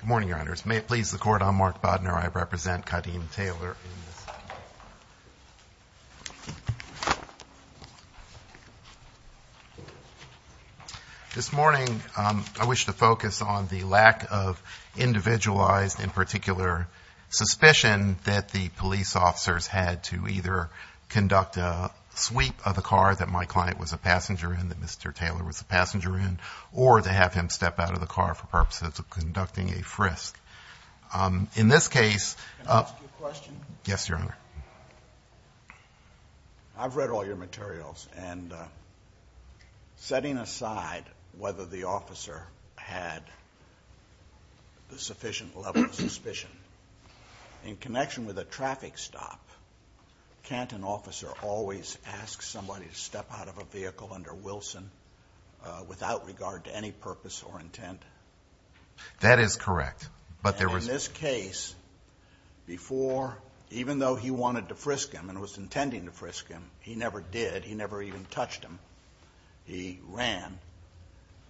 Good morning, Your Honors. May it please the Court, I'm Mark Bodnar. I represent Kadeem Taylor. This morning, I wish to focus on the lack of individualized and particular suspicion that the police officers had to either conduct a sweep of the car that my client was a passenger in, that Mr. Taylor was a passenger in, or to have him step out of the car for purposes of conducting a frisk. In this case— Can I ask you a question? Yes, Your Honor. I've read all your materials, and setting aside whether the officer had a sufficient level of suspicion, in connection with a traffic stop, can't an officer always ask somebody to step out of a vehicle under Wilson without regard to any purpose or intent? That is correct, but there was— Before, even though he wanted to frisk him and was intending to frisk him, he never did. He never even touched him. He ran,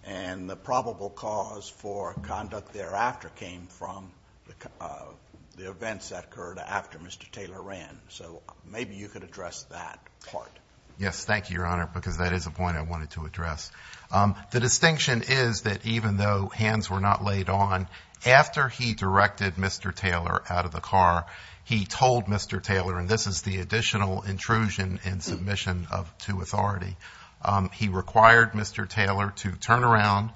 and the probable cause for conduct thereafter came from the events that occurred after Mr. Taylor ran. So maybe you could address that part. Yes, thank you, Your Honor, because that is a point I wanted to address. The distinction is that even though hands were not laid on, after he directed Mr. Taylor out of the car, he told Mr. Taylor—and this is the additional intrusion and submission of two authority—he required Mr. Taylor to turn around,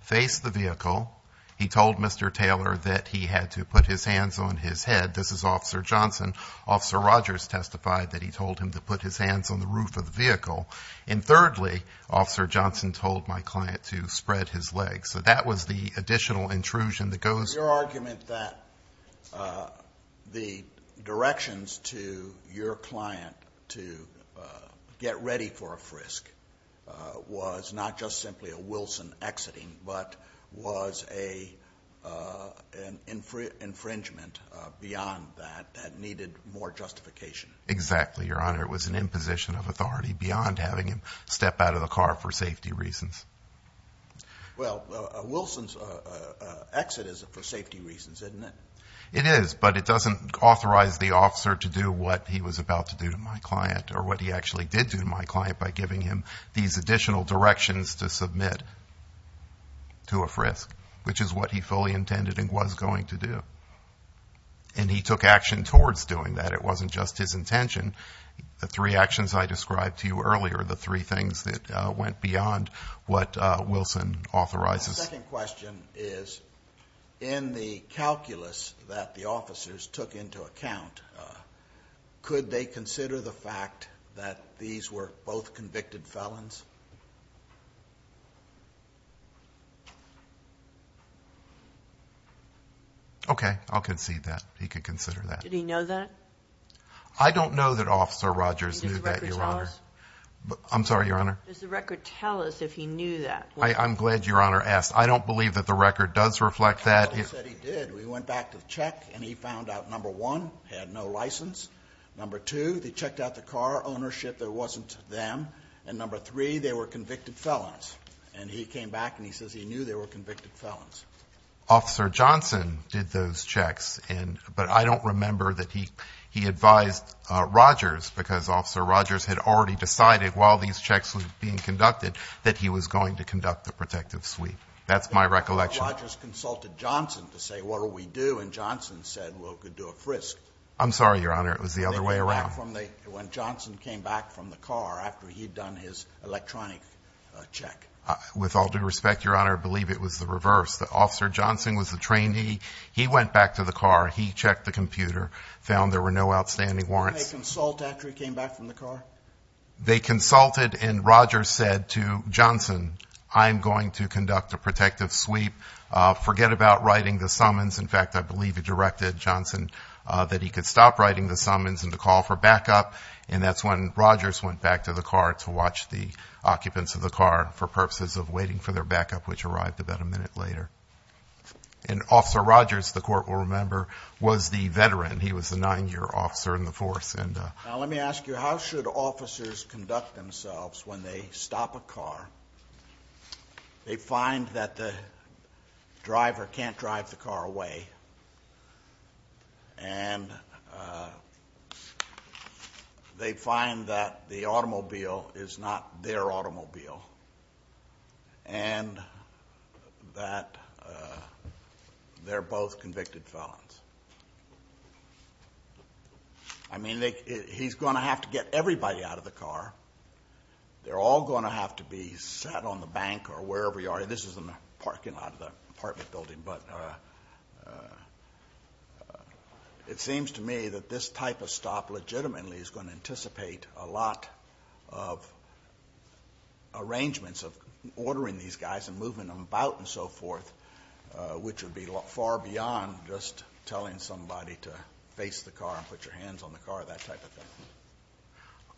face the vehicle. He told Mr. Taylor that he had to put his hands on his head. This is Officer Johnson. Officer Rogers testified that he told him to put his hands on the roof of the vehicle. And thirdly, Officer Johnson told my client to spread his legs. So that was the additional intrusion that goes— Your argument that the directions to your client to get ready for a frisk was not just simply a Wilson exiting, but was an infringement beyond that that needed more justification. Exactly, Your Honor. It was an imposition of authority beyond having him step out of the car for safety reasons. Well, Wilson's exit is for safety reasons, isn't it? It is, but it doesn't authorize the officer to do what he was about to do to my client or what he actually did to my client by giving him these additional directions to submit to a frisk, which is what he fully intended and was going to do. And he took action towards doing that. It wasn't just his intention. The three actions I described to you earlier are the three things that went beyond what Wilson authorizes. My second question is, in the calculus that the officers took into account, could they consider the fact that these were both convicted felons? Okay, I'll concede that. He could consider that. Did he know that? I don't know that Officer Rogers knew that, Your Honor. Does the record tell us? I'm sorry, Your Honor? Does the record tell us if he knew that? I'm glad Your Honor asked. I don't believe that the record does reflect that. Well, he said he did. We went back to the check and he found out, number one, he had no license. Number two, they checked out the car ownership. There wasn't them. And number three, they were convicted felons. And he came back and he says he knew they were convicted felons. Officer Johnson did those checks, but I don't remember that he advised Rogers because Officer Rogers had already decided while these checks were being conducted that he was going to conduct the protective sweep. That's my recollection. Well, Rogers consulted Johnson to say, what do we do? And Johnson said, well, we could do a frisk. I'm sorry, Your Honor. It was the other way around. When Johnson came back from the car after he'd done his electronic check. With all due respect, Your Honor, I believe it was the reverse. Officer Johnson was the trainee. He went back to the car. He checked the computer, found there were no outstanding warrants. Did they consult after he came back from the car? They consulted and Rogers said to Johnson, I'm going to conduct a protective sweep. Forget about writing the summons. In fact, I believe it directed Johnson that he could stop writing the summons and to call for backup. And that's when Rogers went back to the car to watch the occupants of the car for purposes of waiting for their backup, which arrived about a minute later. And Officer Rogers, the court will remember, was the veteran. He was a nine year officer in the force. Now let me ask you, how should officers conduct themselves when they stop a car? They find that the driver can't drive the car away. And they find that the automobile is not their automobile. And that they're both convicted felons. I mean, he's going to have to get everybody out of the car. They're all going to have to be sat on the bank or wherever you are. This is in the parking lot of the apartment building. But it seems to me that this type of stop legitimately is going to anticipate a lot of arrangements of ordering these guys and moving them about and so forth, which would be far beyond just telling somebody to face the car and put your hands on the car, that type of thing,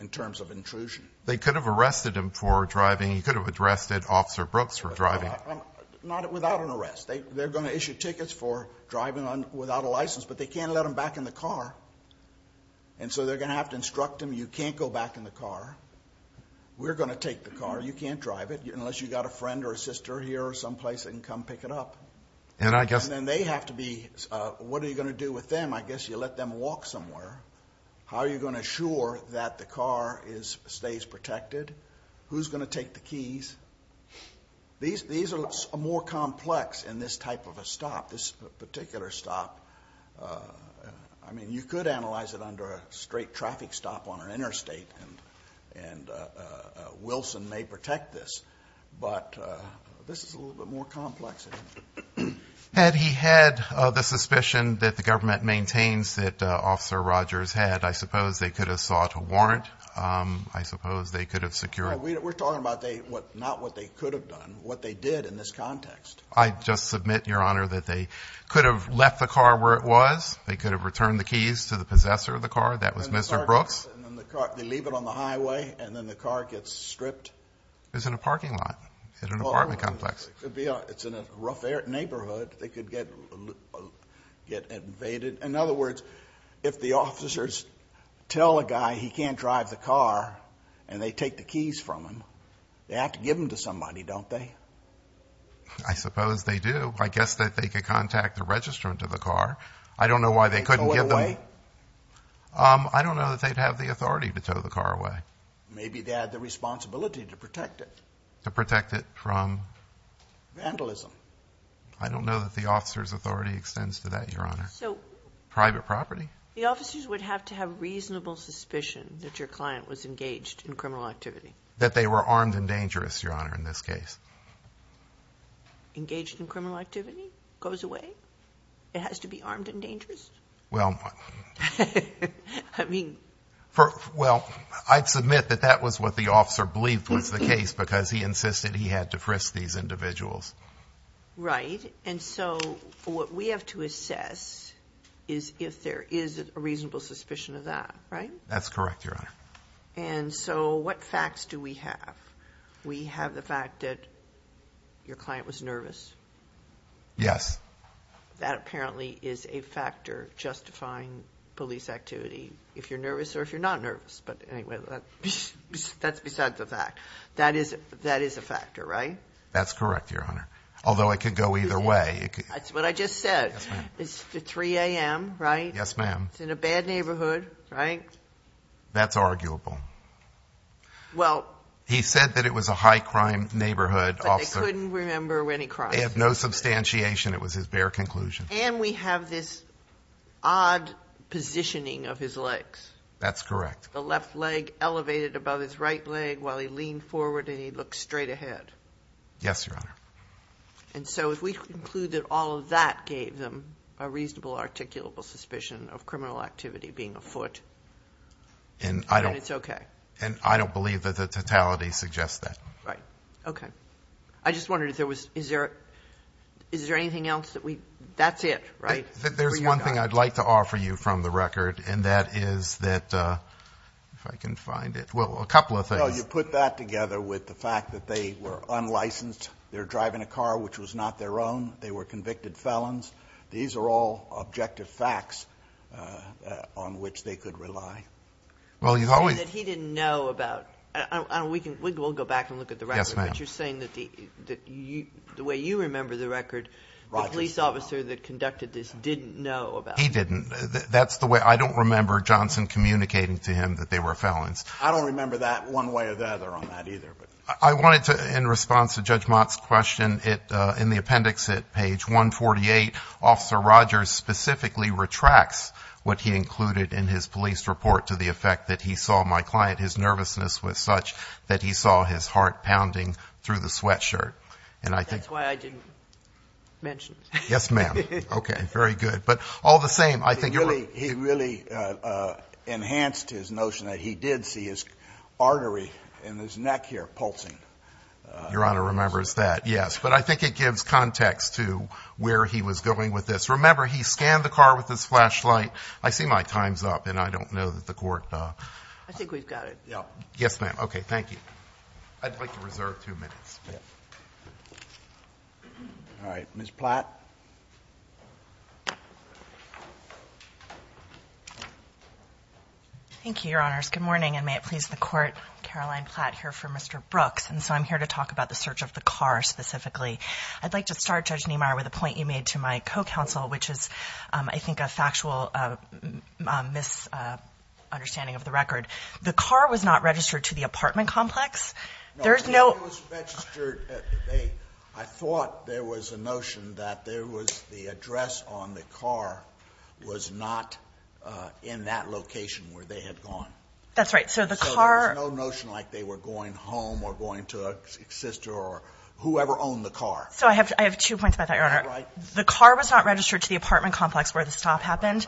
in terms of intrusion. They could have arrested him for driving. He could have arrested Officer Brooks for driving. Not without an arrest. They're going to issue tickets for driving without a license, but they can't let them back in the car. And so they're going to have to instruct them, you can't go back in the car. We're going to take the car. You can't drive it. Unless you've got a friend or a sister here or someplace that can come pick it up. And then they have to be, what are you going to do with them? I guess you let them walk somewhere. How are you going to assure that the car stays protected? Who's going to take the keys? These are more complex in this type of a stop, this particular stop. I mean, you could analyze it under a straight traffic stop on an interstate, and Wilson may protect this. But this is a little bit more complex. Had he had the suspicion that the government maintains that Officer Rogers had, I suppose they could have sought a warrant. I suppose they could have secured. We're talking about not what they could have done, what they did in this context. I just submit, Your Honor, that they could have left the car where it was. They could have returned the keys to the possessor of the car. That was Mr. Brooks. They leave it on the highway, and then the car gets stripped. It was in a parking lot at an apartment complex. It's in a rough neighborhood. They could get invaded. In other words, if the officers tell a guy he can't drive the car and they take the keys from him, they have to give them to somebody, don't they? I suppose they do. I guess that they could contact the registrant of the car. I don't know why they couldn't give them. They tow it away? I don't know that they'd have the authority to tow the car away. Maybe they had the responsibility to protect it. To protect it from? Vandalism. I don't know that the officer's authority extends to that, Your Honor. Private property? The officers would have to have reasonable suspicion that your client was engaged in criminal activity. That they were armed and dangerous, Your Honor, in this case. Engaged in criminal activity? Goes away? It has to be armed and dangerous? Well, I'd submit that that was what the officer believed was the case because he insisted he had to frisk these individuals. Right. And so what we have to assess is if there is a reasonable suspicion of that, right? That's correct, Your Honor. And so what facts do we have? We have the fact that your client was nervous. Yes. That apparently is a factor justifying police activity if you're nervous or if you're not nervous. But anyway, that's besides the fact. That is a factor, right? That's correct, Your Honor. Although it could go either way. That's what I just said. Yes, ma'am. It's 3 a.m., right? Yes, ma'am. It's in a bad neighborhood, right? That's arguable. Well. He said that it was a high-crime neighborhood officer. But they couldn't remember any crime. They have no substantiation. It was his bare conclusion. And we have this odd positioning of his legs. That's correct. The left leg elevated above his right leg while he leaned forward and he looked straight ahead. Yes, Your Honor. And so if we conclude that all of that gave them a reasonable articulable suspicion of criminal activity being a foot, then it's okay. And I don't believe that the totality suggests that. Right. Okay. I just wondered if there was, is there anything else that we, that's it, right? There's one thing I'd like to offer you from the record, and that is that, if I can find it, well, a couple of things. No, you put that together with the fact that they were unlicensed. They were driving a car which was not their own. They were convicted felons. These are all objective facts on which they could rely. Well, you always. And that he didn't know about. We'll go back and look at the record. Yes, ma'am. But you're saying that the way you remember the record, the police officer that conducted this didn't know about it. He didn't. That's the way. I don't remember Johnson communicating to him that they were felons. I don't remember that one way or the other on that either. I wanted to, in response to Judge Mott's question, in the appendix at page 148, Officer Rogers specifically retracts what he included in his police report to the effect that he saw my client, his nervousness was such that he saw his heart pounding through the sweatshirt. And I think. That's why I didn't mention it. Yes, ma'am. Okay. Very good. But all the same, I think. He really enhanced his notion that he did see his artery in his neck here pulsing. Your Honor remembers that, yes. But I think it gives context to where he was going with this. Remember, he scanned the car with his flashlight. I see my time's up, and I don't know that the Court. I think we've got it. Yes, ma'am. Okay. Thank you. I'd like to reserve two minutes. All right. Ms. Platt. Thank you, Your Honors. Good morning, and may it please the Court. Caroline Platt here for Mr. Brooks. And so I'm here to talk about the search of the car specifically. I'd like to start, Judge Niemeyer, with a point you made to my co-counsel, which is, I think, a factual misunderstanding of the record. The car was not registered to the apartment complex? No. It was registered at the bay. I thought there was a notion that there was the address on the car was not in that location where they had gone. That's right. So the car — So there was no notion like they were going home or going to a sister or whoever owned the car. So I have two points about that, Your Honor. All right. The car was not registered to the apartment complex where the stop happened.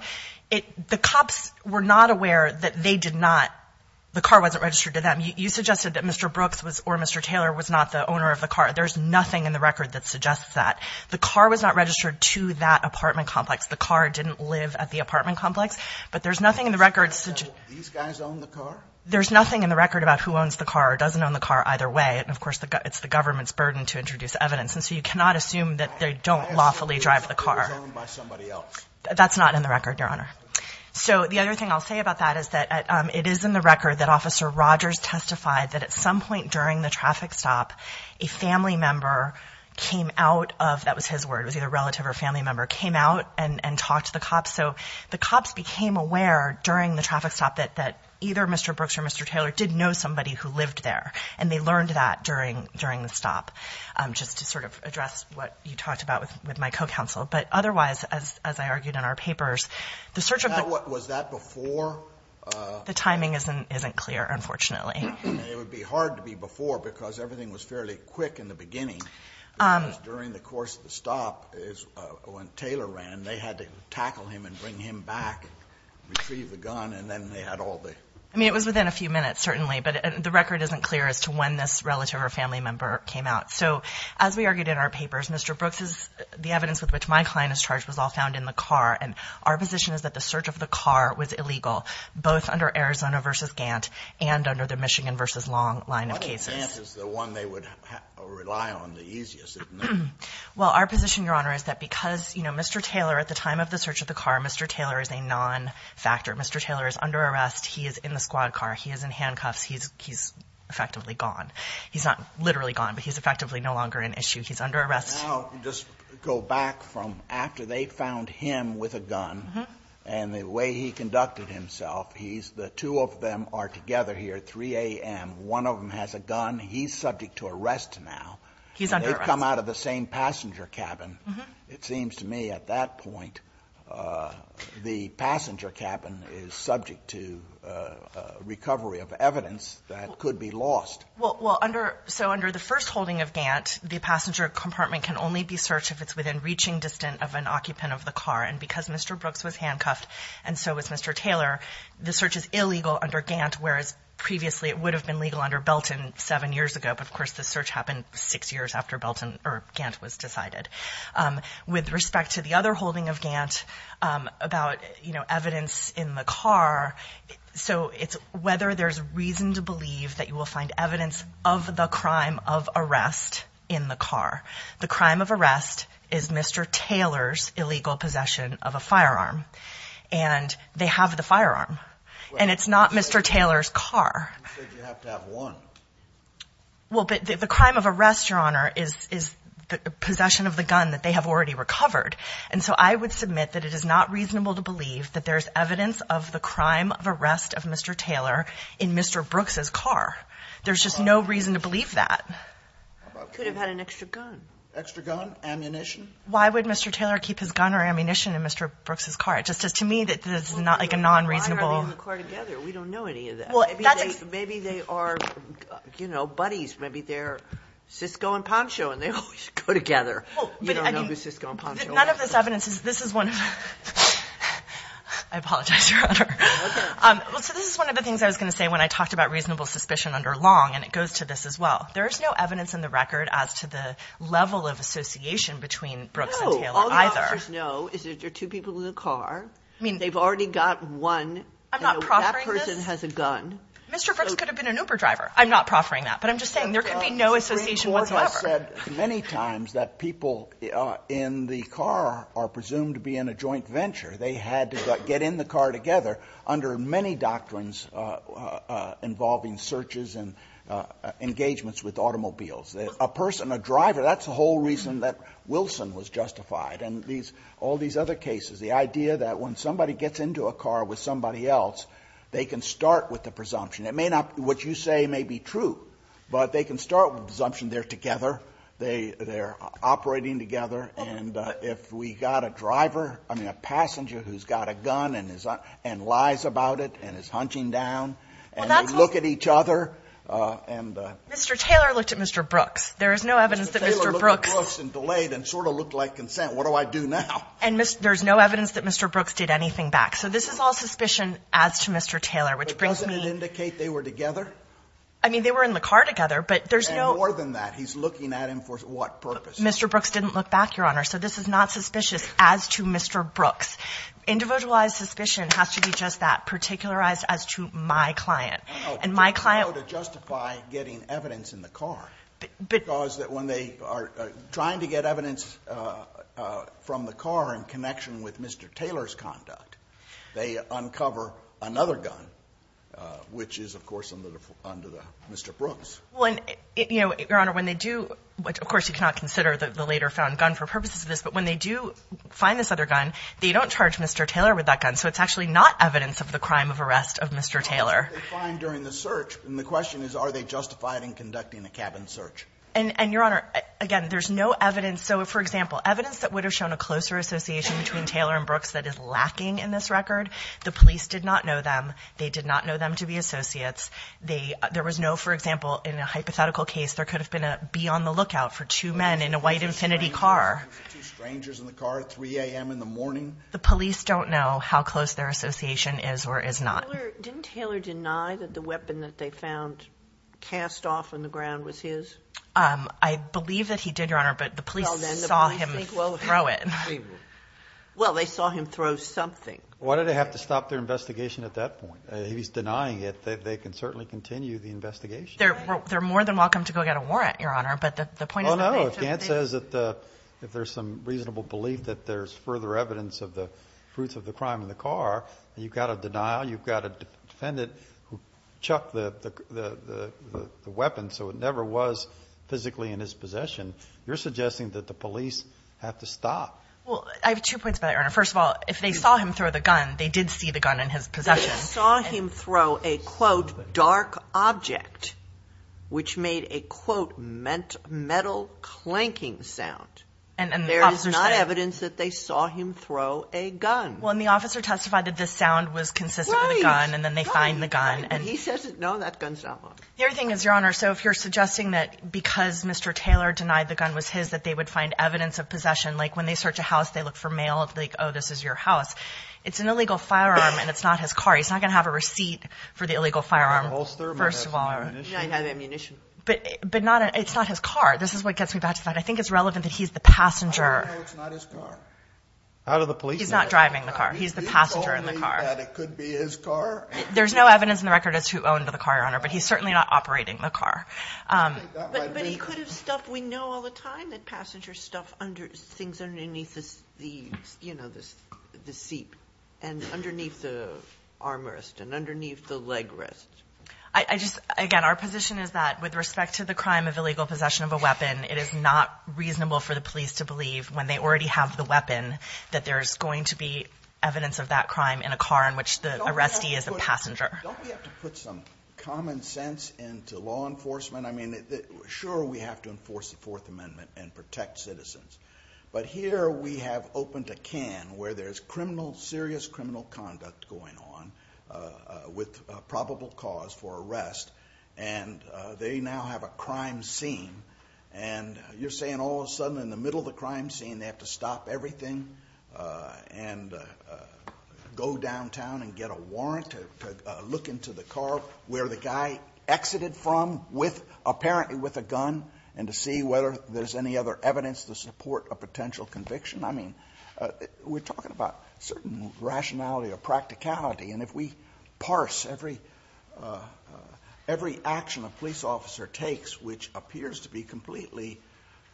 The cops were not aware that they did not — the car wasn't registered to them. You suggested that Mr. Brooks or Mr. Taylor was not the owner of the car. There's nothing in the record that suggests that. The car was not registered to that apartment complex. The car didn't live at the apartment complex. But there's nothing in the record — These guys own the car? There's nothing in the record about who owns the car or doesn't own the car either way. And, of course, it's the government's burden to introduce evidence. And so you cannot assume that they don't lawfully drive the car. I assume it was owned by somebody else. That's not in the record, Your Honor. So the other thing I'll say about that is that it is in the record that Officer Rogers testified that at some point during the traffic stop, a family member came out of — that was his word, it was either relative or family member — came out and talked to the cops. So the cops became aware during the traffic stop that either Mr. Brooks or Mr. Taylor did know somebody who lived there, and they learned that during the stop, just to sort of address what you talked about with my co-counsel. But otherwise, as I argued in our papers, the search of the — Was that before? The timing isn't clear, unfortunately. It would be hard to be before because everything was fairly quick in the beginning because during the course of the stop, when Taylor ran, they had to tackle him and bring him back and retrieve the gun, and then they had all the — I mean, it was within a few minutes, certainly, but the record isn't clear as to when this relative or family member came out. So as we argued in our papers, Mr. Brooks's — the evidence with which my client is charged was all found in the car, and our position is that the search of the car was illegal, both under Arizona v. Gant and under the Michigan v. Long line of cases. I thought Gant is the one they would rely on the easiest, isn't it? Well, our position, Your Honor, is that because, you know, Mr. Taylor, at the time of the search of the car, Mr. Taylor is a non-factor. Mr. Taylor is under arrest. He is in the squad car. He is in handcuffs. He's effectively gone. He's not literally gone, but he's effectively no longer an issue. He's under arrest. Now, just go back from after they found him with a gun and the way he conducted himself, he's — the two of them are together here at 3 a.m. One of them has a gun. He's subject to arrest now. He's under arrest. They've come out of the same passenger cabin. It seems to me at that point the passenger cabin is subject to recovery of evidence that could be lost. Well, under — so under the first holding of Gant, the passenger compartment can only be searched if it's within reaching distance of an occupant of the car. And because Mr. Brooks was handcuffed and so was Mr. Taylor, the search is illegal under Gant whereas previously it would have been legal under Belton seven years ago. But, of course, the search happened six years after Belton — or Gant was decided. With respect to the other holding of Gant about, you know, evidence in the car, so it's whether there's reason to believe that you will find evidence of the crime of arrest in the car. The crime of arrest is Mr. Taylor's illegal possession of a firearm. And they have the firearm. And it's not Mr. Taylor's car. You said you have to have one. Well, but the crime of arrest, Your Honor, is the possession of the gun that they have already recovered. And so I would submit that it is not reasonable to believe that there's evidence of the crime of arrest of Mr. Taylor in Mr. Brooks' car. There's just no reason to believe that. Could have had an extra gun. Extra gun? Ammunition? Why would Mr. Taylor keep his gun or ammunition in Mr. Brooks' car? It just says to me that this is not like a non-reasonable — Why are they in the car together? We don't know any of that. Maybe they are, you know, buddies. Maybe they're Cisco and Poncho and they always go together. You don't know who Cisco and Poncho are. None of this evidence is — this is one of — I apologize, Your Honor. Well, so this is one of the things I was going to say when I talked about reasonable suspicion under Long, and it goes to this as well. There is no evidence in the record as to the level of association between Brooks and Taylor either. No. All the officers know is that there are two people in the car. I mean, they've already got one. I'm not proffering this. And that person has a gun. Mr. Brooks could have been an Uber driver. I'm not proffering that. But I'm just saying there could be no association whatsoever. The Supreme Court has said many times that people in the car are presumed to be in a joint venture. They had to get in the car together under many doctrines involving searches and engagements with automobiles. A person, a driver, that's the whole reason that Wilson was justified. And all these other cases, the idea that when somebody gets into a car with somebody else, they can start with the presumption. It may not — what you say may be true, but they can start with the presumption they're together, they're operating together. And if we got a driver, I mean, a passenger who's got a gun and lies about it and is hunching down, and they look at each other and — Mr. Taylor looked at Mr. Brooks. There is no evidence that Mr. Brooks — Mr. Taylor looked at Brooks and delayed and sort of looked like consent. What do I do now? And there's no evidence that Mr. Brooks did anything back. So this is all suspicion as to Mr. Taylor, which brings me — But doesn't it indicate they were together? I mean, they were in the car together, but there's no — And more than that, he's looking at him for what purpose? Mr. Brooks didn't look back, Your Honor. So this is not suspicious as to Mr. Brooks. Individualized suspicion has to be just that, particularized as to my client. And my client — No, no. They know to justify getting evidence in the car. But — Because when they are trying to get evidence from the car in connection with Mr. Taylor's conduct, they uncover another gun, which is, of course, under the — under Mr. Brooks. Well, and, you know, Your Honor, when they do — which, of course, you cannot consider the later-found gun for purposes of this. But when they do find this other gun, they don't charge Mr. Taylor with that gun. So it's actually not evidence of the crime of arrest of Mr. Taylor. But what did they find during the search? And the question is, are they justified in conducting a cabin search? And, Your Honor, again, there's no evidence — so, for example, evidence that would have shown a closer association between Taylor and Brooks that is lacking in this record, the police did not know them. They did not know them to be associates. They — there was no — for example, in a hypothetical case, there could have been a be-on-the-lookout for two men in a white Infiniti car. Two strangers in the car at 3 a.m. in the morning? The police don't know how close their association is or is not. Didn't Taylor deny that the weapon that they found cast off on the ground was his? I believe that he did, Your Honor, but the police saw him throw it. Well, they saw him throw something. Why did they have to stop their investigation at that point? If he's denying it, they can certainly continue the investigation. They're more than welcome to go get a warrant, Your Honor, but the point is — Well, no. If Gant says that if there's some reasonable belief that there's further evidence of the fruits of the crime in the car, you've got a denial, you've got a defendant who chucked the weapon so it never was physically in his possession, you're suggesting that the police have to stop. Well, I have two points about that, Your Honor. First of all, if they saw him throw the gun, they did see the gun in his possession. If they saw him throw a, quote, dark object, which made a, quote, metal clanking sound, there is not evidence that they saw him throw a gun. Well, and the officer testified that the sound was consistent with the gun, and then they find the gun. And he says, no, that gun's not mine. The other thing is, Your Honor, so if you're suggesting that because Mr. Taylor denied the gun was his that they would find evidence of possession, like when they search a house, they look for mail, like, oh, this is your house, it's an illegal firearm, and it's not his car. He's not going to have a receipt for the illegal firearm, first of all. He might have ammunition. He might have ammunition. But not a – it's not his car. This is what gets me back to that. I think it's relevant that he's the passenger. I don't know it's not his car. How do the police know that? He's not driving the car. He's the passenger in the car. He told me that it could be his car. There's no evidence in the record as to who owned the car, Your Honor, but he's certainly not operating the car. But he could have stuffed – we know all the time that passengers stuff things underneath the seat and underneath the armrest and underneath the leg rest. I just – again, our position is that with respect to the crime of illegal possession of a weapon, it is not reasonable for the police to believe, when they already have the weapon, that there's going to be evidence of that crime in a car in which the arrestee is the passenger. Don't we have to put some common sense into law enforcement? I mean, sure, we have to enforce the Fourth Amendment and protect citizens. But here we have opened a can where there's criminal – serious criminal conduct going on with probable cause for arrest, and they now have a crime scene. And you're saying all of a sudden in the middle of the crime scene they have to stop everything and go downtown and get a warrant to look into the car where the guy exited from with – apparently with a gun and to see whether there's any other evidence to support a potential conviction? I mean, we're talking about certain rationality or practicality. And if we parse every action a police officer takes, which appears to be completely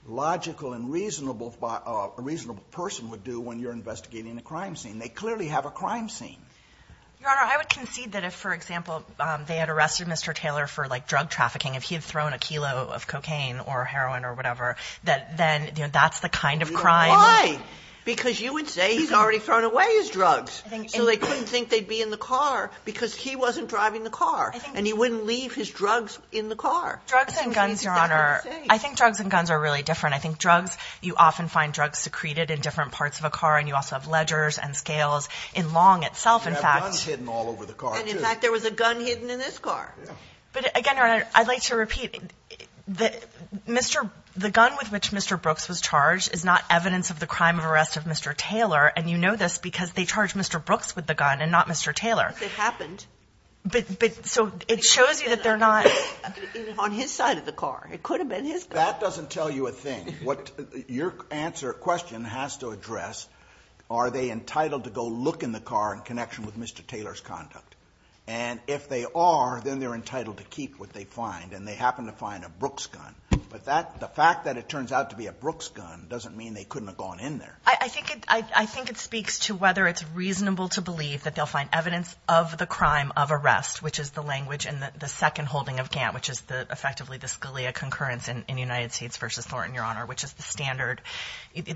logical and reasonable – a reasonable person would do when you're investigating a crime scene, they clearly have a crime scene. Your Honor, I would concede that if, for example, they had arrested Mr. Taylor for Why? Because you would say he's already thrown away his drugs. So they couldn't think they'd be in the car because he wasn't driving the car. And he wouldn't leave his drugs in the car. Drugs and guns, Your Honor – I think drugs and guns are really different. I think drugs – you often find drugs secreted in different parts of a car, and you also have ledgers and scales. In Long itself, in fact – You have guns hidden all over the car, too. And in fact there was a gun hidden in this car. But again, Your Honor, I'd like to repeat, the gun with which Mr. Brooks was charged is not evidence of the crime of arrest of Mr. Taylor, and you know this because they charged Mr. Brooks with the gun and not Mr. Taylor. It happened. But so it shows you that they're not – On his side of the car. It could have been his car. That doesn't tell you a thing. Your answer – question has to address are they entitled to go look in the car in connection with Mr. Taylor's conduct. And if they are, then they're entitled to keep what they find, and they happen to find a Brooks gun. But the fact that it turns out to be a Brooks gun doesn't mean they couldn't have gone in there. I think it speaks to whether it's reasonable to believe that they'll find evidence of the crime of arrest, which is the language in the second holding of Gantt, which is effectively the Scalia concurrence in United States v. Thornton, Your Honor, which is the standard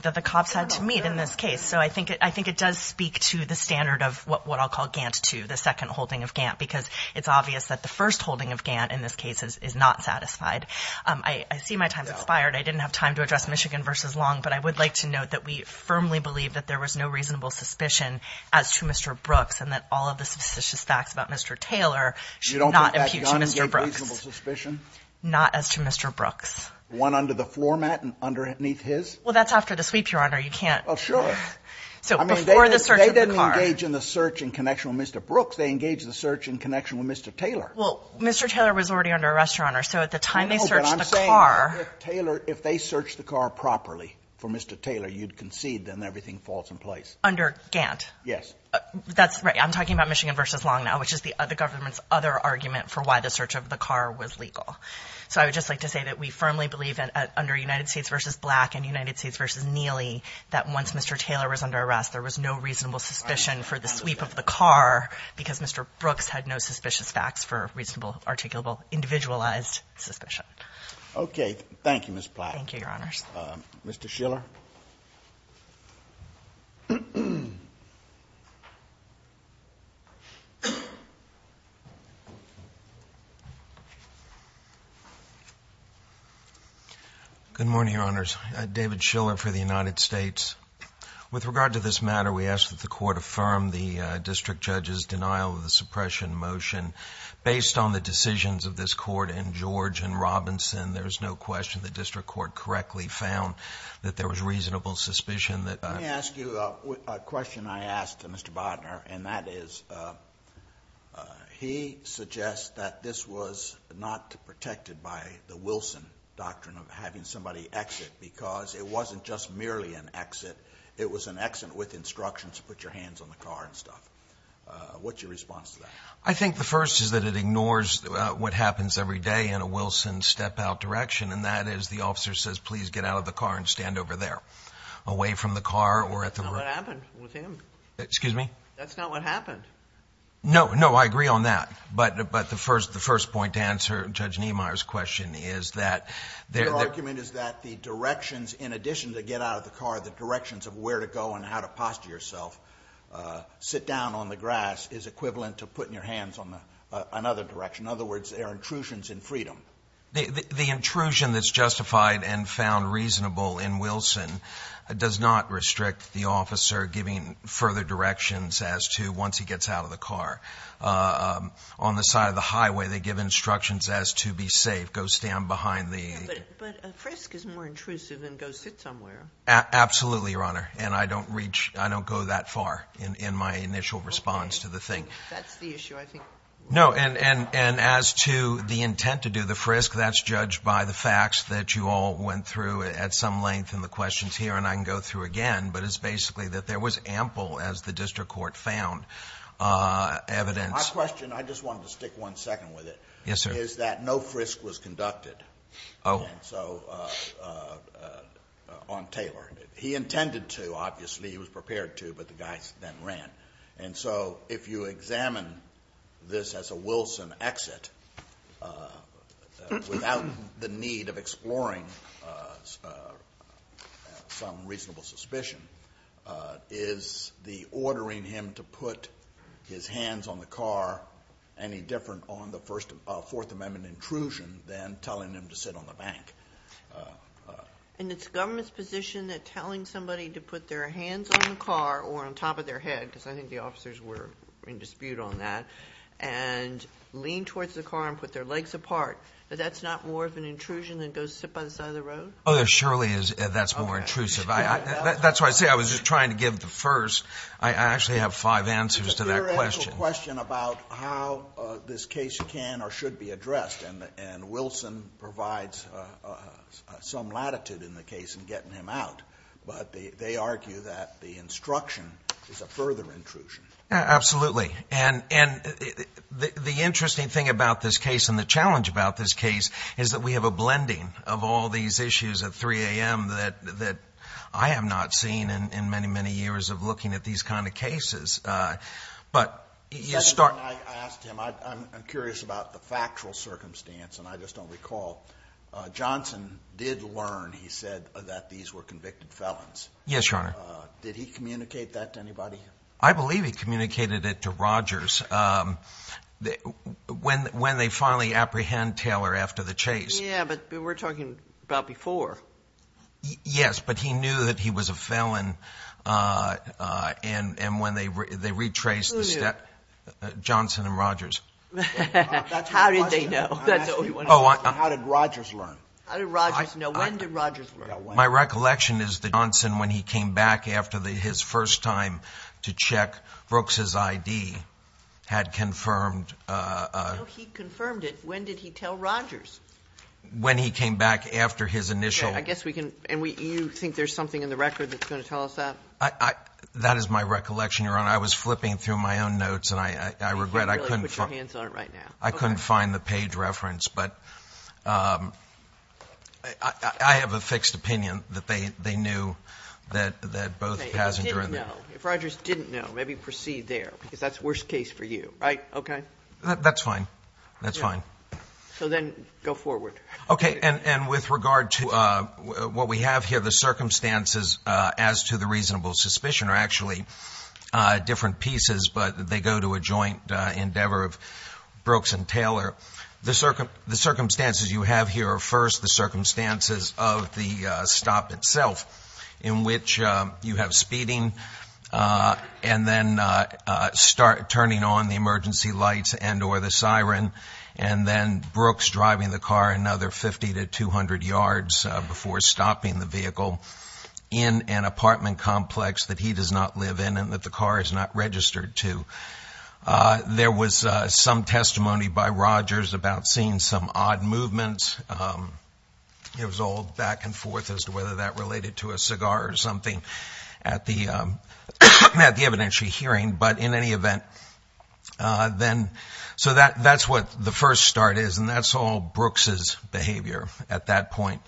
that the cops had to meet in this case. So I think it does speak to the standard of what I'll call Gantt II, the second holding of Gantt, because it's obvious that the first holding of Gantt in this case is not satisfied. I see my time's expired. I didn't have time to address Michigan v. Long, but I would like to note that we firmly believe that there was no reasonable suspicion as to Mr. Brooks and that all of the suspicious facts about Mr. Taylor should not impute to Mr. Brooks. You don't think that gun gave reasonable suspicion? Not as to Mr. Brooks. Well, that's after the sweep, Your Honor. Well, sure. So before the search of the car. They didn't engage in the search in connection with Mr. Brooks. They engaged the search in connection with Mr. Taylor. Well, Mr. Taylor was already under arrest, Your Honor. So at the time they searched the car. No, but I'm saying if Taylor, if they searched the car properly for Mr. Taylor, you'd concede then everything falls in place. Under Gantt? Yes. That's right. I'm talking about Michigan v. Long now, which is the government's other argument for why the search of the car was legal. So I would just like to say that we firmly believe that under United States v. Black and United States v. Neely, that once Mr. Taylor was under arrest, there was no reasonable suspicion for the sweep of the car because Mr. Brooks had no suspicious facts for reasonable, articulable, individualized suspicion. Okay. Thank you, Ms. Platt. Thank you, Your Honors. Mr. Schiller. Good morning, Your Honors. David Schiller for the United States. With regard to this matter, we ask that the court affirm the district judge's denial of the suppression motion. Based on the decisions of this court and George and Robinson, there is no question the district court correctly found that there was reasonable suspicion that a Let me ask you a question I asked Mr. Bodner, and that is, he suggests that this was not protected by the Wilson doctrine of having somebody exit because it wasn't just merely an exit. It was an exit with instructions to put your hands on the car and stuff. What's your response to that? I think the first is that it ignores what happens every day in a Wilson step-out direction, and that is the officer says, please get out of the car and stand over there, away from the car or at the That's not what happened with him. Excuse me? That's not what happened. No, I agree on that. But the first point to answer Judge Niemeyer's question is that Their argument is that the directions, in addition to get out of the car, the directions of where to go and how to posture yourself, sit down on the grass is equivalent to putting your hands on another direction. In other words, there are intrusions in freedom. The intrusion that's justified and found reasonable in Wilson does not restrict the officer giving further directions as to once he gets out of the car. On the side of the highway, they give instructions as to be safe, go stand behind the. But a frisk is more intrusive than go sit somewhere. Absolutely, Your Honor. And I don't reach, I don't go that far in my initial response to the thing. That's the issue, I think. No, and as to the intent to do the frisk, that's judged by the facts that you all went through at some length in the questions here, and I can go through again. But it's basically that there was ample, as the district court found, evidence. My question, I just wanted to stick one second with it. Yes, sir. My question is that no frisk was conducted. Oh. And so on Taylor. He intended to, obviously. He was prepared to, but the guys then ran. And so if you examine this as a Wilson exit, without the need of exploring some reasonable suspicion, is the ordering him to put his hands on the car any different on the Fourth Amendment intrusion than telling him to sit on the bank? And it's the government's position that telling somebody to put their hands on the car or on top of their head, because I think the officers were in dispute on that, and lean towards the car and put their legs apart, that that's not more of an intrusion than go sit by the side of the road? Oh, there surely is. That's more intrusive. That's why I say I was just trying to give the first. I actually have five answers to that question. It's a theoretical question about how this case can or should be addressed. And Wilson provides some latitude in the case in getting him out. But they argue that the instruction is a further intrusion. Absolutely. And the interesting thing about this case and the challenge about this case is that we have a blending of all these issues at 3 a.m. that I have not seen in many, many years of looking at these kind of cases. But you start. The second thing I asked him, I'm curious about the factual circumstance, and I just don't recall. Johnson did learn, he said, that these were convicted felons. Yes, Your Honor. Did he communicate that to anybody? I believe he communicated it to Rogers. When they finally apprehend Taylor after the chase. Yeah, but we're talking about before. Yes, but he knew that he was a felon. And when they retraced the step, Johnson and Rogers. How did they know? How did Rogers learn? How did Rogers know? When did Rogers learn? My recollection is that Johnson, when he came back after his first time to check Brooks' I.D., had confirmed. No, he confirmed it. When did he tell Rogers? When he came back after his initial. I guess we can. And you think there's something in the record that's going to tell us that? That is my recollection, Your Honor. I was flipping through my own notes, and I regret. You can't really put your hands on it right now. I couldn't find the page reference. But I have a fixed opinion that they knew that both the passenger. If Rogers didn't know, maybe proceed there, because that's worst case for you, right? Okay. That's fine. That's fine. So then go forward. Okay, and with regard to what we have here, the circumstances as to the reasonable suspicion are actually different pieces, but they go to a joint endeavor of Brooks and Taylor. The circumstances you have here are first the circumstances of the stop itself, in which you have speeding and then turning on the emergency lights and or the siren, and then Brooks driving the car another 50 to 200 yards before stopping the vehicle in an apartment complex that he does not live in and that the car is not registered to. There was some testimony by Rogers about seeing some odd movements. It was all back and forth as to whether that related to a cigar or something at the evidentiary hearing. But in any event, so that's what the first start is, and that's all Brooks's behavior at that point.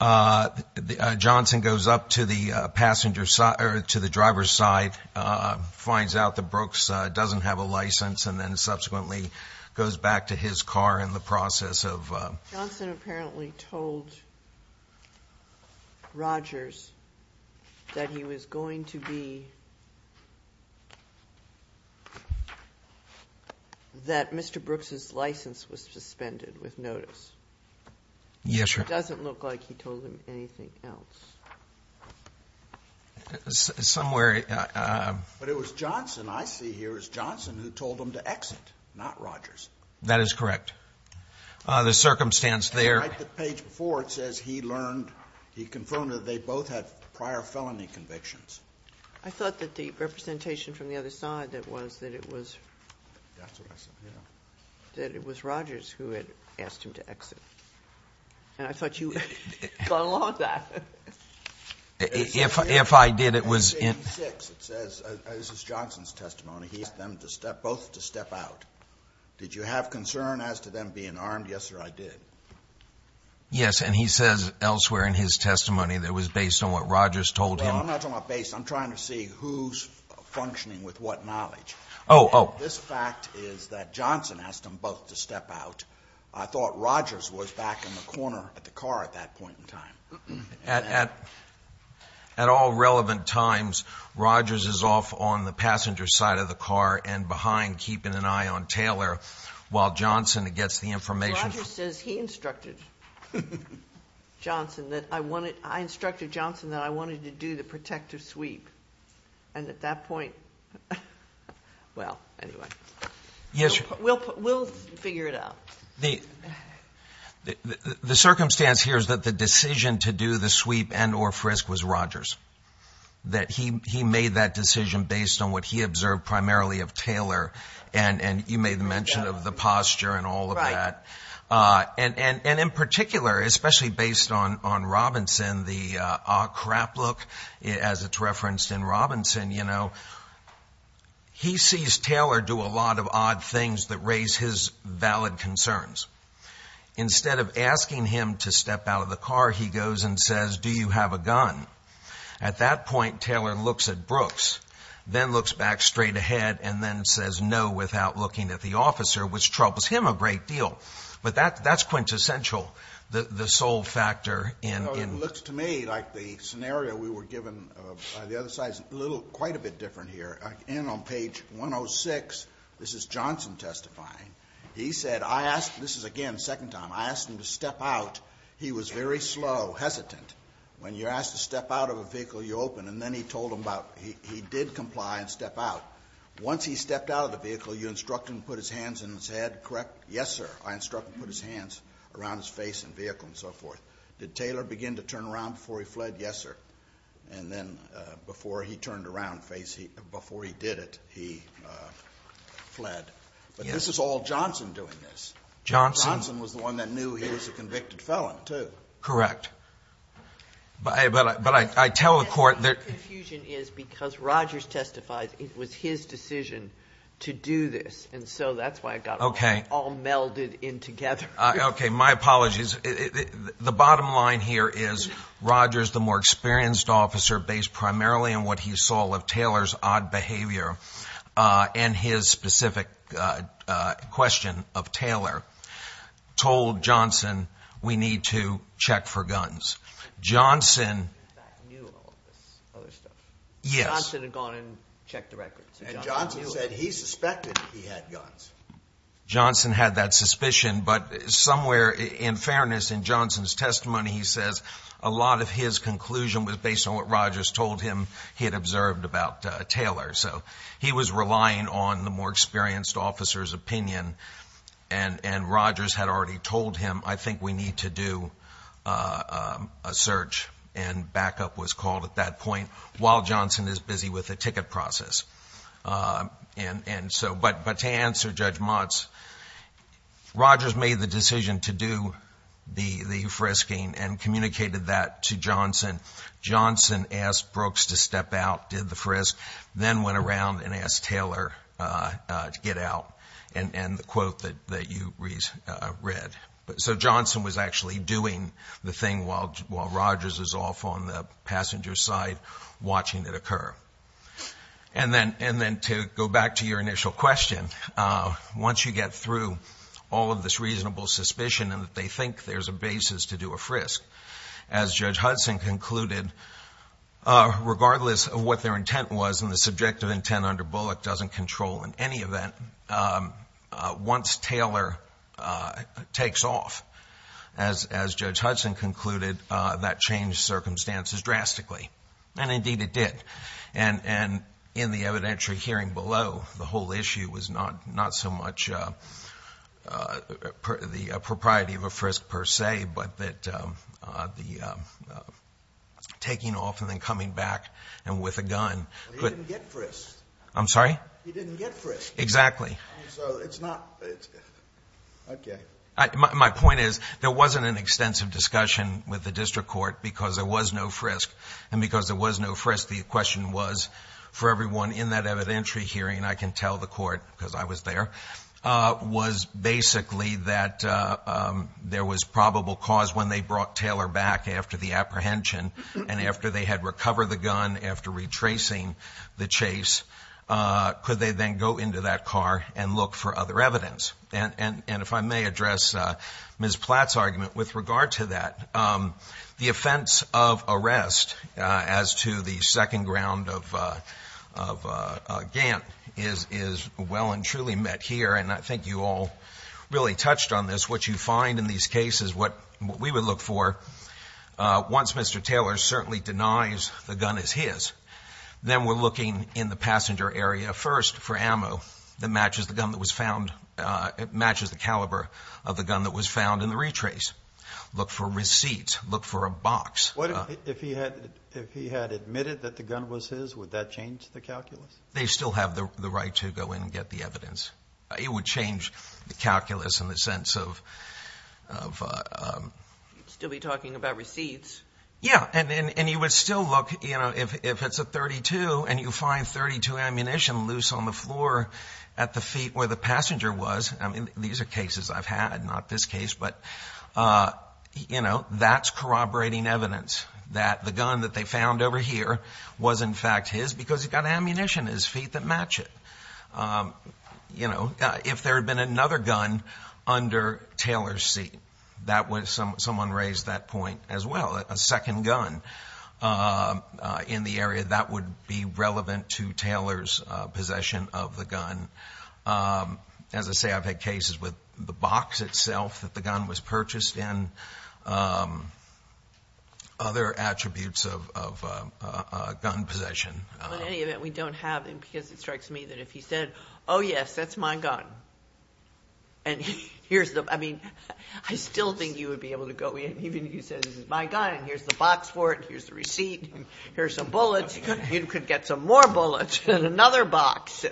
Johnson goes up to the driver's side, finds out that Brooks doesn't have a license, and then subsequently goes back to his car in the process of ---- Johnson apparently told Rogers that he was going to be ---- that Mr. Brooks's license was suspended with notice. Yes, Your Honor. It doesn't look like he told him anything else. Somewhere ---- But it was Johnson, I see here, it was Johnson who told him to exit, not Rogers. That is correct. The circumstance there ---- On the page before it says he learned, he confirmed that they both had prior felony convictions. I thought that the representation from the other side that was that it was ---- That's what I said, yes. That it was Rogers who had asked him to exit. And I thought you got along with that. If I did, it was in ---- It says, this is Johnson's testimony, he asked them both to step out. Did you have concern as to them being armed? Yes, sir, I did. Yes, and he says elsewhere in his testimony that it was based on what Rogers told him. Well, I'm not talking about based, I'm trying to see who's functioning with what knowledge. Oh, oh. Well, this fact is that Johnson asked them both to step out. I thought Rogers was back in the corner of the car at that point in time. At all relevant times, Rogers is off on the passenger side of the car and behind keeping an eye on Taylor, while Johnson gets the information. Well, Rogers says he instructed Johnson that I wanted, I instructed Johnson that I wanted to do the protective sweep. And at that point, well, anyway, we'll figure it out. The circumstance here is that the decision to do the sweep and or frisk was Rogers, that he made that decision based on what he observed primarily of Taylor. And you made the mention of the posture and all of that. Right. And in particular, especially based on Robinson, the crap look as it's referenced in Robinson, you know, he sees Taylor do a lot of odd things that raise his valid concerns. Instead of asking him to step out of the car, he goes and says, do you have a gun? At that point, Taylor looks at Brooks, then looks back straight ahead and then says no without looking at the officer, which troubles him a great deal. But that's quintessential, the sole factor in. It looks to me like the scenario we were given by the other side is quite a bit different here. And on page 106, this is Johnson testifying. He said, I asked, this is, again, second time, I asked him to step out. He was very slow, hesitant. When you're asked to step out of a vehicle, you open. And then he told him about, he did comply and step out. Once he stepped out of the vehicle, you instruct him to put his hands on his head, correct? Yes, sir. I instruct him to put his hands around his face and vehicle and so forth. Did Taylor begin to turn around before he fled? Yes, sir. And then before he turned around, before he did it, he fled. But this is all Johnson doing this. Johnson? Johnson was the one that knew he was a convicted felon, too. Correct. But I tell the court that the confusion is because Rogers testifies it was his decision to do this. And so that's why it got all melded in together. Okay, my apologies. The bottom line here is Rogers, the more experienced officer, based primarily on what he saw of Taylor's odd behavior and his specific question of Taylor, told Johnson, we need to check for guns. Johnson knew all of this other stuff. Yes. Johnson had gone and checked the records. And Johnson said he suspected he had guns. Johnson had that suspicion, but somewhere, in fairness, in Johnson's testimony, he says a lot of his conclusion was based on what Rogers told him he had observed about Taylor. So he was relying on the more experienced officer's opinion, and Rogers had already told him, I think we need to do a search, and backup was called at that point, while Johnson is busy with the ticket process. But to answer Judge Mott's, Rogers made the decision to do the frisking and communicated that to Johnson. Johnson asked Brooks to step out, did the frisk, then went around and asked Taylor to get out, and the quote that you read. So Johnson was actually doing the thing while Rogers is off on the passenger side watching it occur. And then to go back to your initial question, once you get through all of this reasonable suspicion and that they think there's a basis to do a frisk, as Judge Hudson concluded, regardless of what their intent was, and the subjective intent under Bullock doesn't control in any event, once Taylor takes off, as Judge Hudson concluded, that changed circumstances drastically. And indeed it did. And in the evidentiary hearing below, the whole issue was not so much the propriety of a frisk per se, but that taking off and then coming back, and with a gun. But he didn't get frisked. I'm sorry? He didn't get frisked. Exactly. So it's not, okay. My point is, there wasn't an extensive discussion with the district court because there was no frisk. And because there was no frisk, the question was, for everyone in that evidentiary hearing, I can tell the court, because I was there, was basically that there was probable cause when they brought Taylor back after the apprehension, and after they had recovered the gun, after retracing the chase, could they then go into that car and look for other evidence? And if I may address Ms. Platt's argument with regard to that, the offense of arrest as to the second ground of Gant is well and truly met here. And I think you all really touched on this. What you find in these cases, what we would look for, once Mr. Taylor certainly denies the gun is his, then we're looking in the passenger area first for ammo that matches the gun that was found, matches the caliber of the gun that was found in the retrace. Look for receipts, look for a box. If he had admitted that the gun was his, would that change the calculus? They still have the right to go in and get the evidence. It would change the calculus in the sense of... You'd still be talking about receipts. Yeah, and you would still look, you know, if it's a .32 and you find .32 ammunition loose on the floor at the feet where the passenger was, I mean, these are cases I've had, not this case, but, you know, that's corroborating evidence that the gun that they found over here was, in fact, his, because he's got ammunition in his feet that match it. You know, if there had been another gun under Taylor's seat, someone raised that point as well, a second gun in the area, that would be relevant to Taylor's possession of the gun. As I say, I've had cases with the box itself that the gun was purchased in, other attributes of gun possession. In any event, we don't have them, because it strikes me that if he said, oh, yes, that's my gun, and here's the... I mean, I still think you would be able to go in, even if you said, this is my gun, and here's the box for it, here's the receipt, here's some bullets, you could get some more bullets in another box.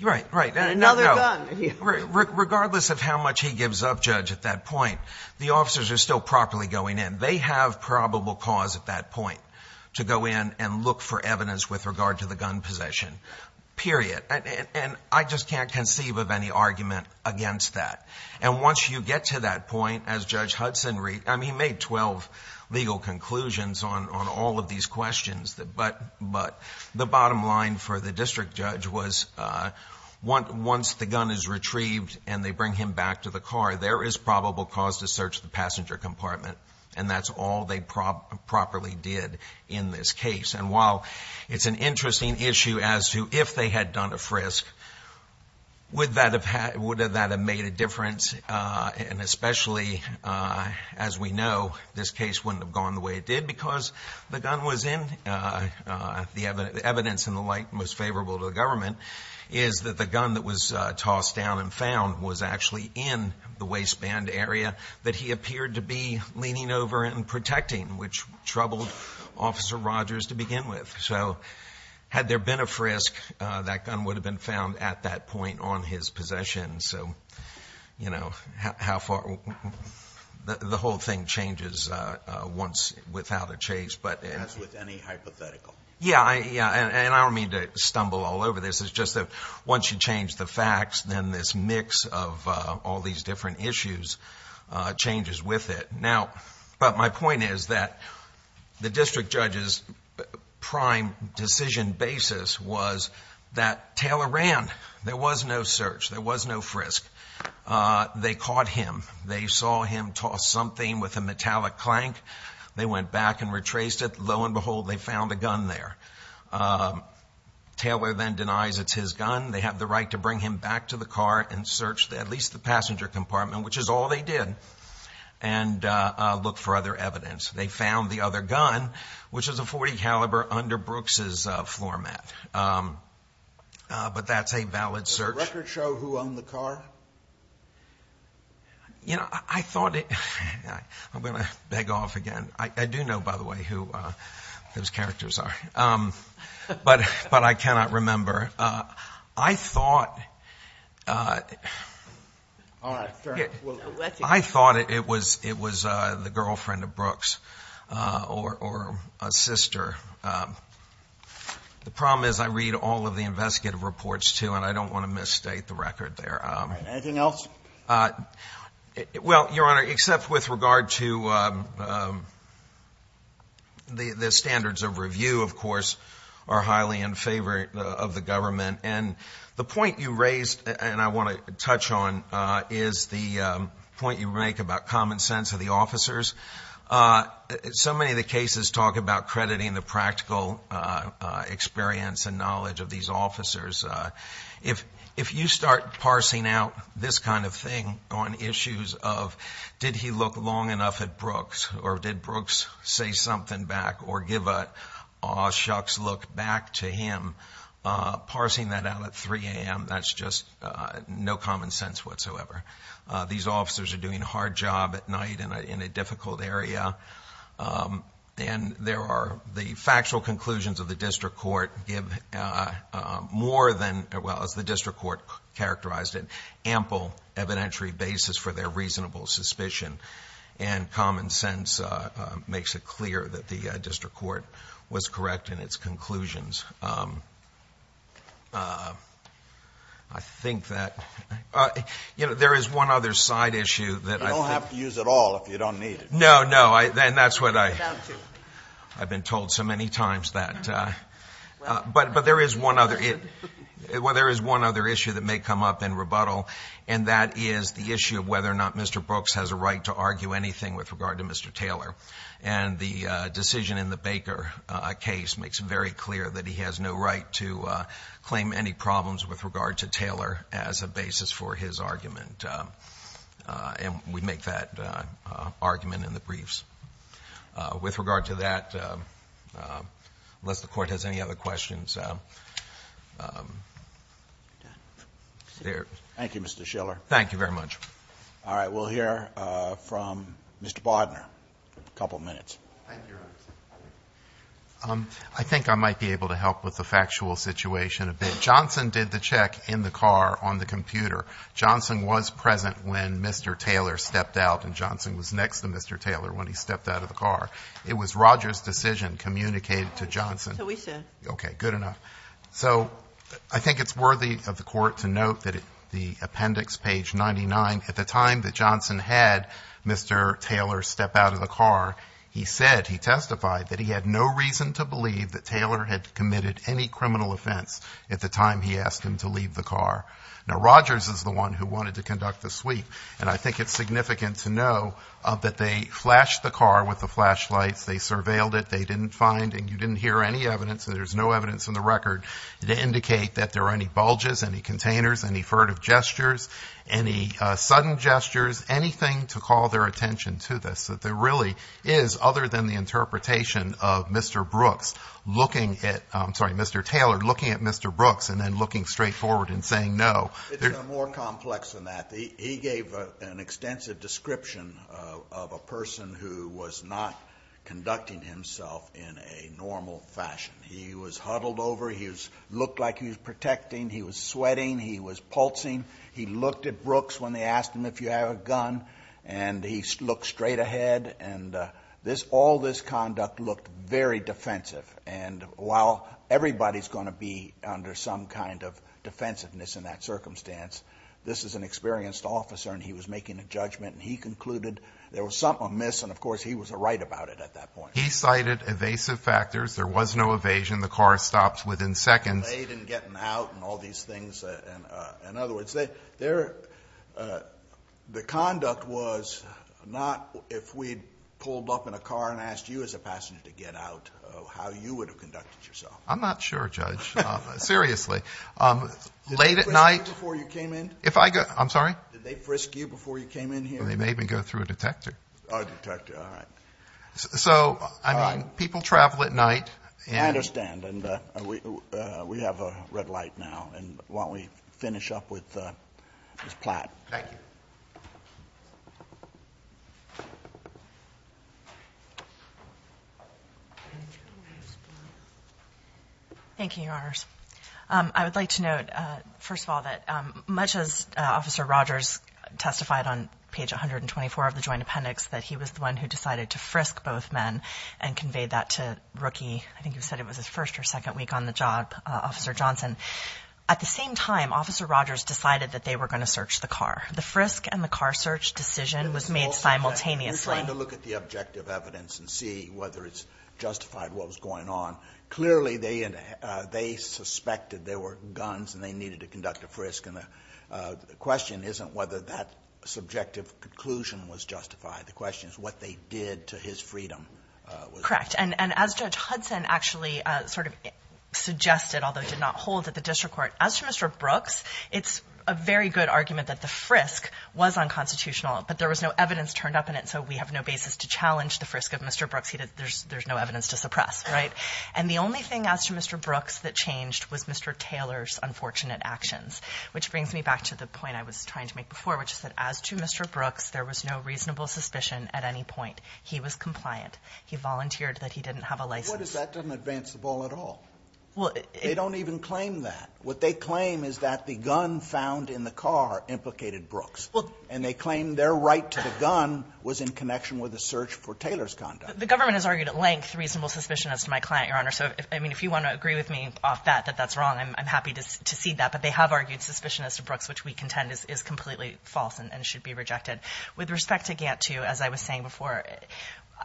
Right, right. In another gun. Regardless of how much he gives up, Judge, at that point, the officers are still properly going in. They have probable cause at that point to go in and look for evidence with regard to the gun possession, period. And I just can't conceive of any argument against that. And once you get to that point, as Judge Hudson, I mean, he made 12 legal conclusions on all of these questions, but the bottom line for the district judge was once the gun is retrieved and they bring him back to the car, there is probable cause to search the passenger compartment, and that's all they properly did in this case. And while it's an interesting issue as to if they had done a frisk, would that have made a difference? And especially, as we know, this case wouldn't have gone the way it did because the gun was in. The evidence and the like most favorable to the government is that the gun that was tossed down and found was actually in the waistband area that he appeared to be leaning over and protecting, which troubled Officer Rogers to begin with. So had there been a frisk, that gun would have been found at that point on his possession. So, you know, the whole thing changes once without a chase. As with any hypothetical. Yeah, and I don't mean to stumble all over this. It's just that once you change the facts, then this mix of all these different issues changes with it. Now, but my point is that the district judge's prime decision basis was that Taylor ran. There was no search. There was no frisk. They caught him. They saw him toss something with a metallic clank. They went back and retraced it. Lo and behold, they found a gun there. Taylor then denies it's his gun. They have the right to bring him back to the car and search at least the passenger compartment, which is all they did. And look for other evidence. They found the other gun, which is a .40 caliber under Brooks's floor mat. But that's a valid search. Does the record show who owned the car? You know, I thought it – I'm going to beg off again. I do know, by the way, who those characters are. But I cannot remember. I thought it was the girlfriend of Brooks or a sister. The problem is I read all of the investigative reports, too, and I don't want to misstate the record there. Anything else? Well, Your Honor, except with regard to the standards of review, of course, are highly in favor of the government. And the point you raised, and I want to touch on, is the point you make about common sense of the officers. So many of the cases talk about crediting the practical experience and knowledge of these officers. If you start parsing out this kind of thing on issues of did he look long enough at Brooks or did Brooks say something back or give an aw shucks look back to him, parsing that out at 3 a.m., that's just no common sense whatsoever. These officers are doing a hard job at night in a difficult area. And there are the factual conclusions of the district court give more than, well, as the district court characterized it, ample evidentiary basis for their reasonable suspicion. And common sense makes it clear that the district court was correct in its conclusions. I think that, you know, there is one other side issue that I think. You don't have to use it all if you don't need it. No, no, and that's what I've been told so many times. But there is one other issue that may come up in rebuttal, and that is the issue of whether or not Mr. Brooks has a right to argue anything with regard to Mr. Taylor. And the decision in the Baker case makes it very clear that he has no right to claim any problems with regard to Taylor as a basis for his argument. And we make that argument in the briefs. With regard to that, unless the Court has any other questions. There. Thank you, Mr. Schiller. Thank you very much. All right. We'll hear from Mr. Bodner in a couple of minutes. I think I might be able to help with the factual situation a bit. Johnson did the check in the car on the computer. Johnson was present when Mr. Taylor stepped out, and Johnson was next to Mr. Taylor when he stepped out of the car. It was Rogers' decision communicated to Johnson. So we said. Okay, good enough. So I think it's worthy of the Court to note that the appendix page 99, at the time that Johnson had Mr. Taylor step out of the car, he said, he testified, that he had no reason to believe that Taylor had committed any criminal offense at the time he asked him to leave the car. Now, Rogers is the one who wanted to conduct the sweep, and I think it's significant to know that they flashed the car with the flashlights. They surveilled it. They didn't find and you didn't hear any evidence, and there's no evidence in the record to indicate that there are any bulges, any containers, any furtive gestures, any sudden gestures, anything to call their attention to this, that there really is, other than the interpretation of Mr. Brooks looking at Mr. Taylor, looking at Mr. Brooks and then looking straight forward and saying no. It's more complex than that. He gave an extensive description of a person who was not conducting himself in a normal fashion. He was huddled over. He looked like he was protecting. He was sweating. He was pulsing. He looked at Brooks when they asked him if he had a gun, and he looked straight ahead, and all this conduct looked very defensive, and while everybody's going to be under some kind of defensiveness in that circumstance, this is an experienced officer, and he was making a judgment, and he concluded there was something amiss, and, of course, he was right about it at that point. He cited evasive factors. There was no evasion. The car stops within seconds. They didn't get out and all these things. In other words, the conduct was not if we'd pulled up in a car and asked you as a passenger to get out how you would have conducted yourself. I'm not sure, Judge. Seriously. Did they frisk you before you came in? I'm sorry? Did they frisk you before you came in here? They made me go through a detector. A detector. All right. So, I mean, people travel at night. I understand, and we have a red light now, and why don't we finish up with Ms. Platt. Thank you. Thank you, Your Honors. I would like to note, first of all, that much as Officer Rogers testified on page 124 of the joint appendix that he was the one who decided to frisk both men and conveyed that to Rookie, I think you said it was his first or second week on the job, Officer Johnson, at the same time, Officer Rogers decided that they were going to search the car. The frisk and the car search decision was made simultaneously. We're trying to look at the objective evidence and see whether it's justified what was going on. Clearly, they suspected there were guns and they needed to conduct a frisk, and the question isn't whether that subjective conclusion was justified. The question is what they did to his freedom. Correct. And as Judge Hudson actually sort of suggested, although did not hold at the district court, as to Mr. Brooks, it's a very good argument that the frisk was unconstitutional, but there was no evidence turned up in it, so we have no basis to challenge the frisk of Mr. Brooks. There's no evidence to suppress, right? And the only thing as to Mr. Brooks that changed was Mr. Taylor's unfortunate actions, which brings me back to the point I was trying to make before, which is that as to Mr. Brooks, there was no reasonable suspicion at any point. He was compliant. He volunteered that he didn't have a license. What is that doesn't advance the ball at all. They don't even claim that. What they claim is that the gun found in the car implicated Brooks, and they claim their right to the gun was in connection with the search for Taylor's conduct. The government has argued at length reasonable suspicion as to my client, Your Honor. So if you want to agree with me off that, that that's wrong, I'm happy to cede that. But they have argued suspicion as to Brooks, which we contend is completely false and should be rejected. With respect to Gantt II, as I was saying before,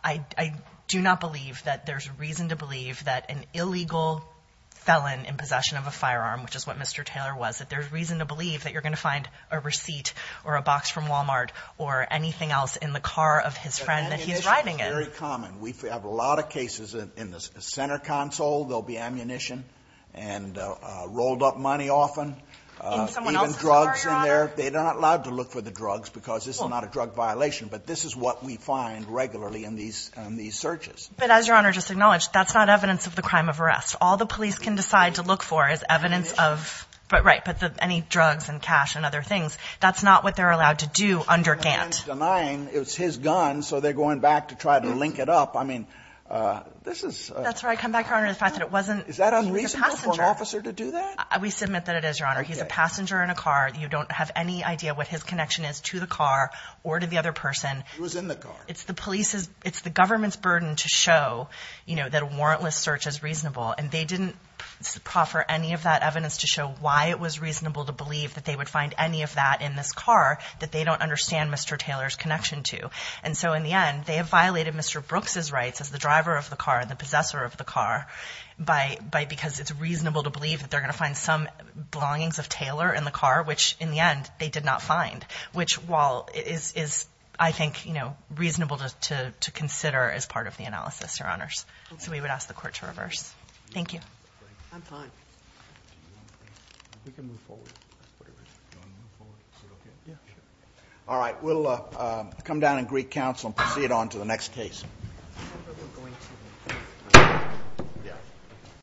I do not believe that there's reason to believe that an illegal felon in possession of a firearm, which is what Mr. Taylor was, that there's reason to believe that you're going to find a receipt or a box from Wal-Mart or anything else in the car of his friend that he's riding in. But ammunition is very common. We have a lot of cases in the center console, there'll be ammunition and rolled up money often. In someone else's car, Your Honor. Even drugs in there. They're not allowed to look for the drugs because this is not a drug violation. But this is what we find regularly in these searches. But as Your Honor just acknowledged, that's not evidence of the crime of arrest. All the police can decide to look for is evidence of. Ammunition. But right. But any drugs and cash and other things, that's not what they're allowed to do under Gantt. The man's denying it was his gun, so they're going back to try to link it up. I mean, this is. That's right. Come back, Your Honor, to the fact that it wasn't. Is that unreasonable for an officer to do that? We submit that it is, Your Honor. Okay. He's a passenger in a car. You don't have any idea what his connection is to the car or to the other person. He was in the car. It's the police's, it's the government's burden to show, you know, that a warrantless search is reasonable. And they didn't proffer any of that evidence to show why it was reasonable to believe that they would find any of that in this car that they don't understand Mr. Taylor's connection to. And so, in the end, they have violated Mr. Brooks's rights as the driver of the car and the possessor of the car by, because it's reasonable to believe that they're going to find some belongings of Taylor in the car, which, in the end, they did not find. Which, while, is, I think, you know, reasonable to consider as part of the analysis, Your Honors. Okay. So we would ask the Court to reverse. Thank you. I'm fine. We can move forward. That's pretty much it. Do you want to move forward? Is it okay? Yeah, sure. All right. We'll come down and greet counsel and proceed on to the next case. I don't think we're going to.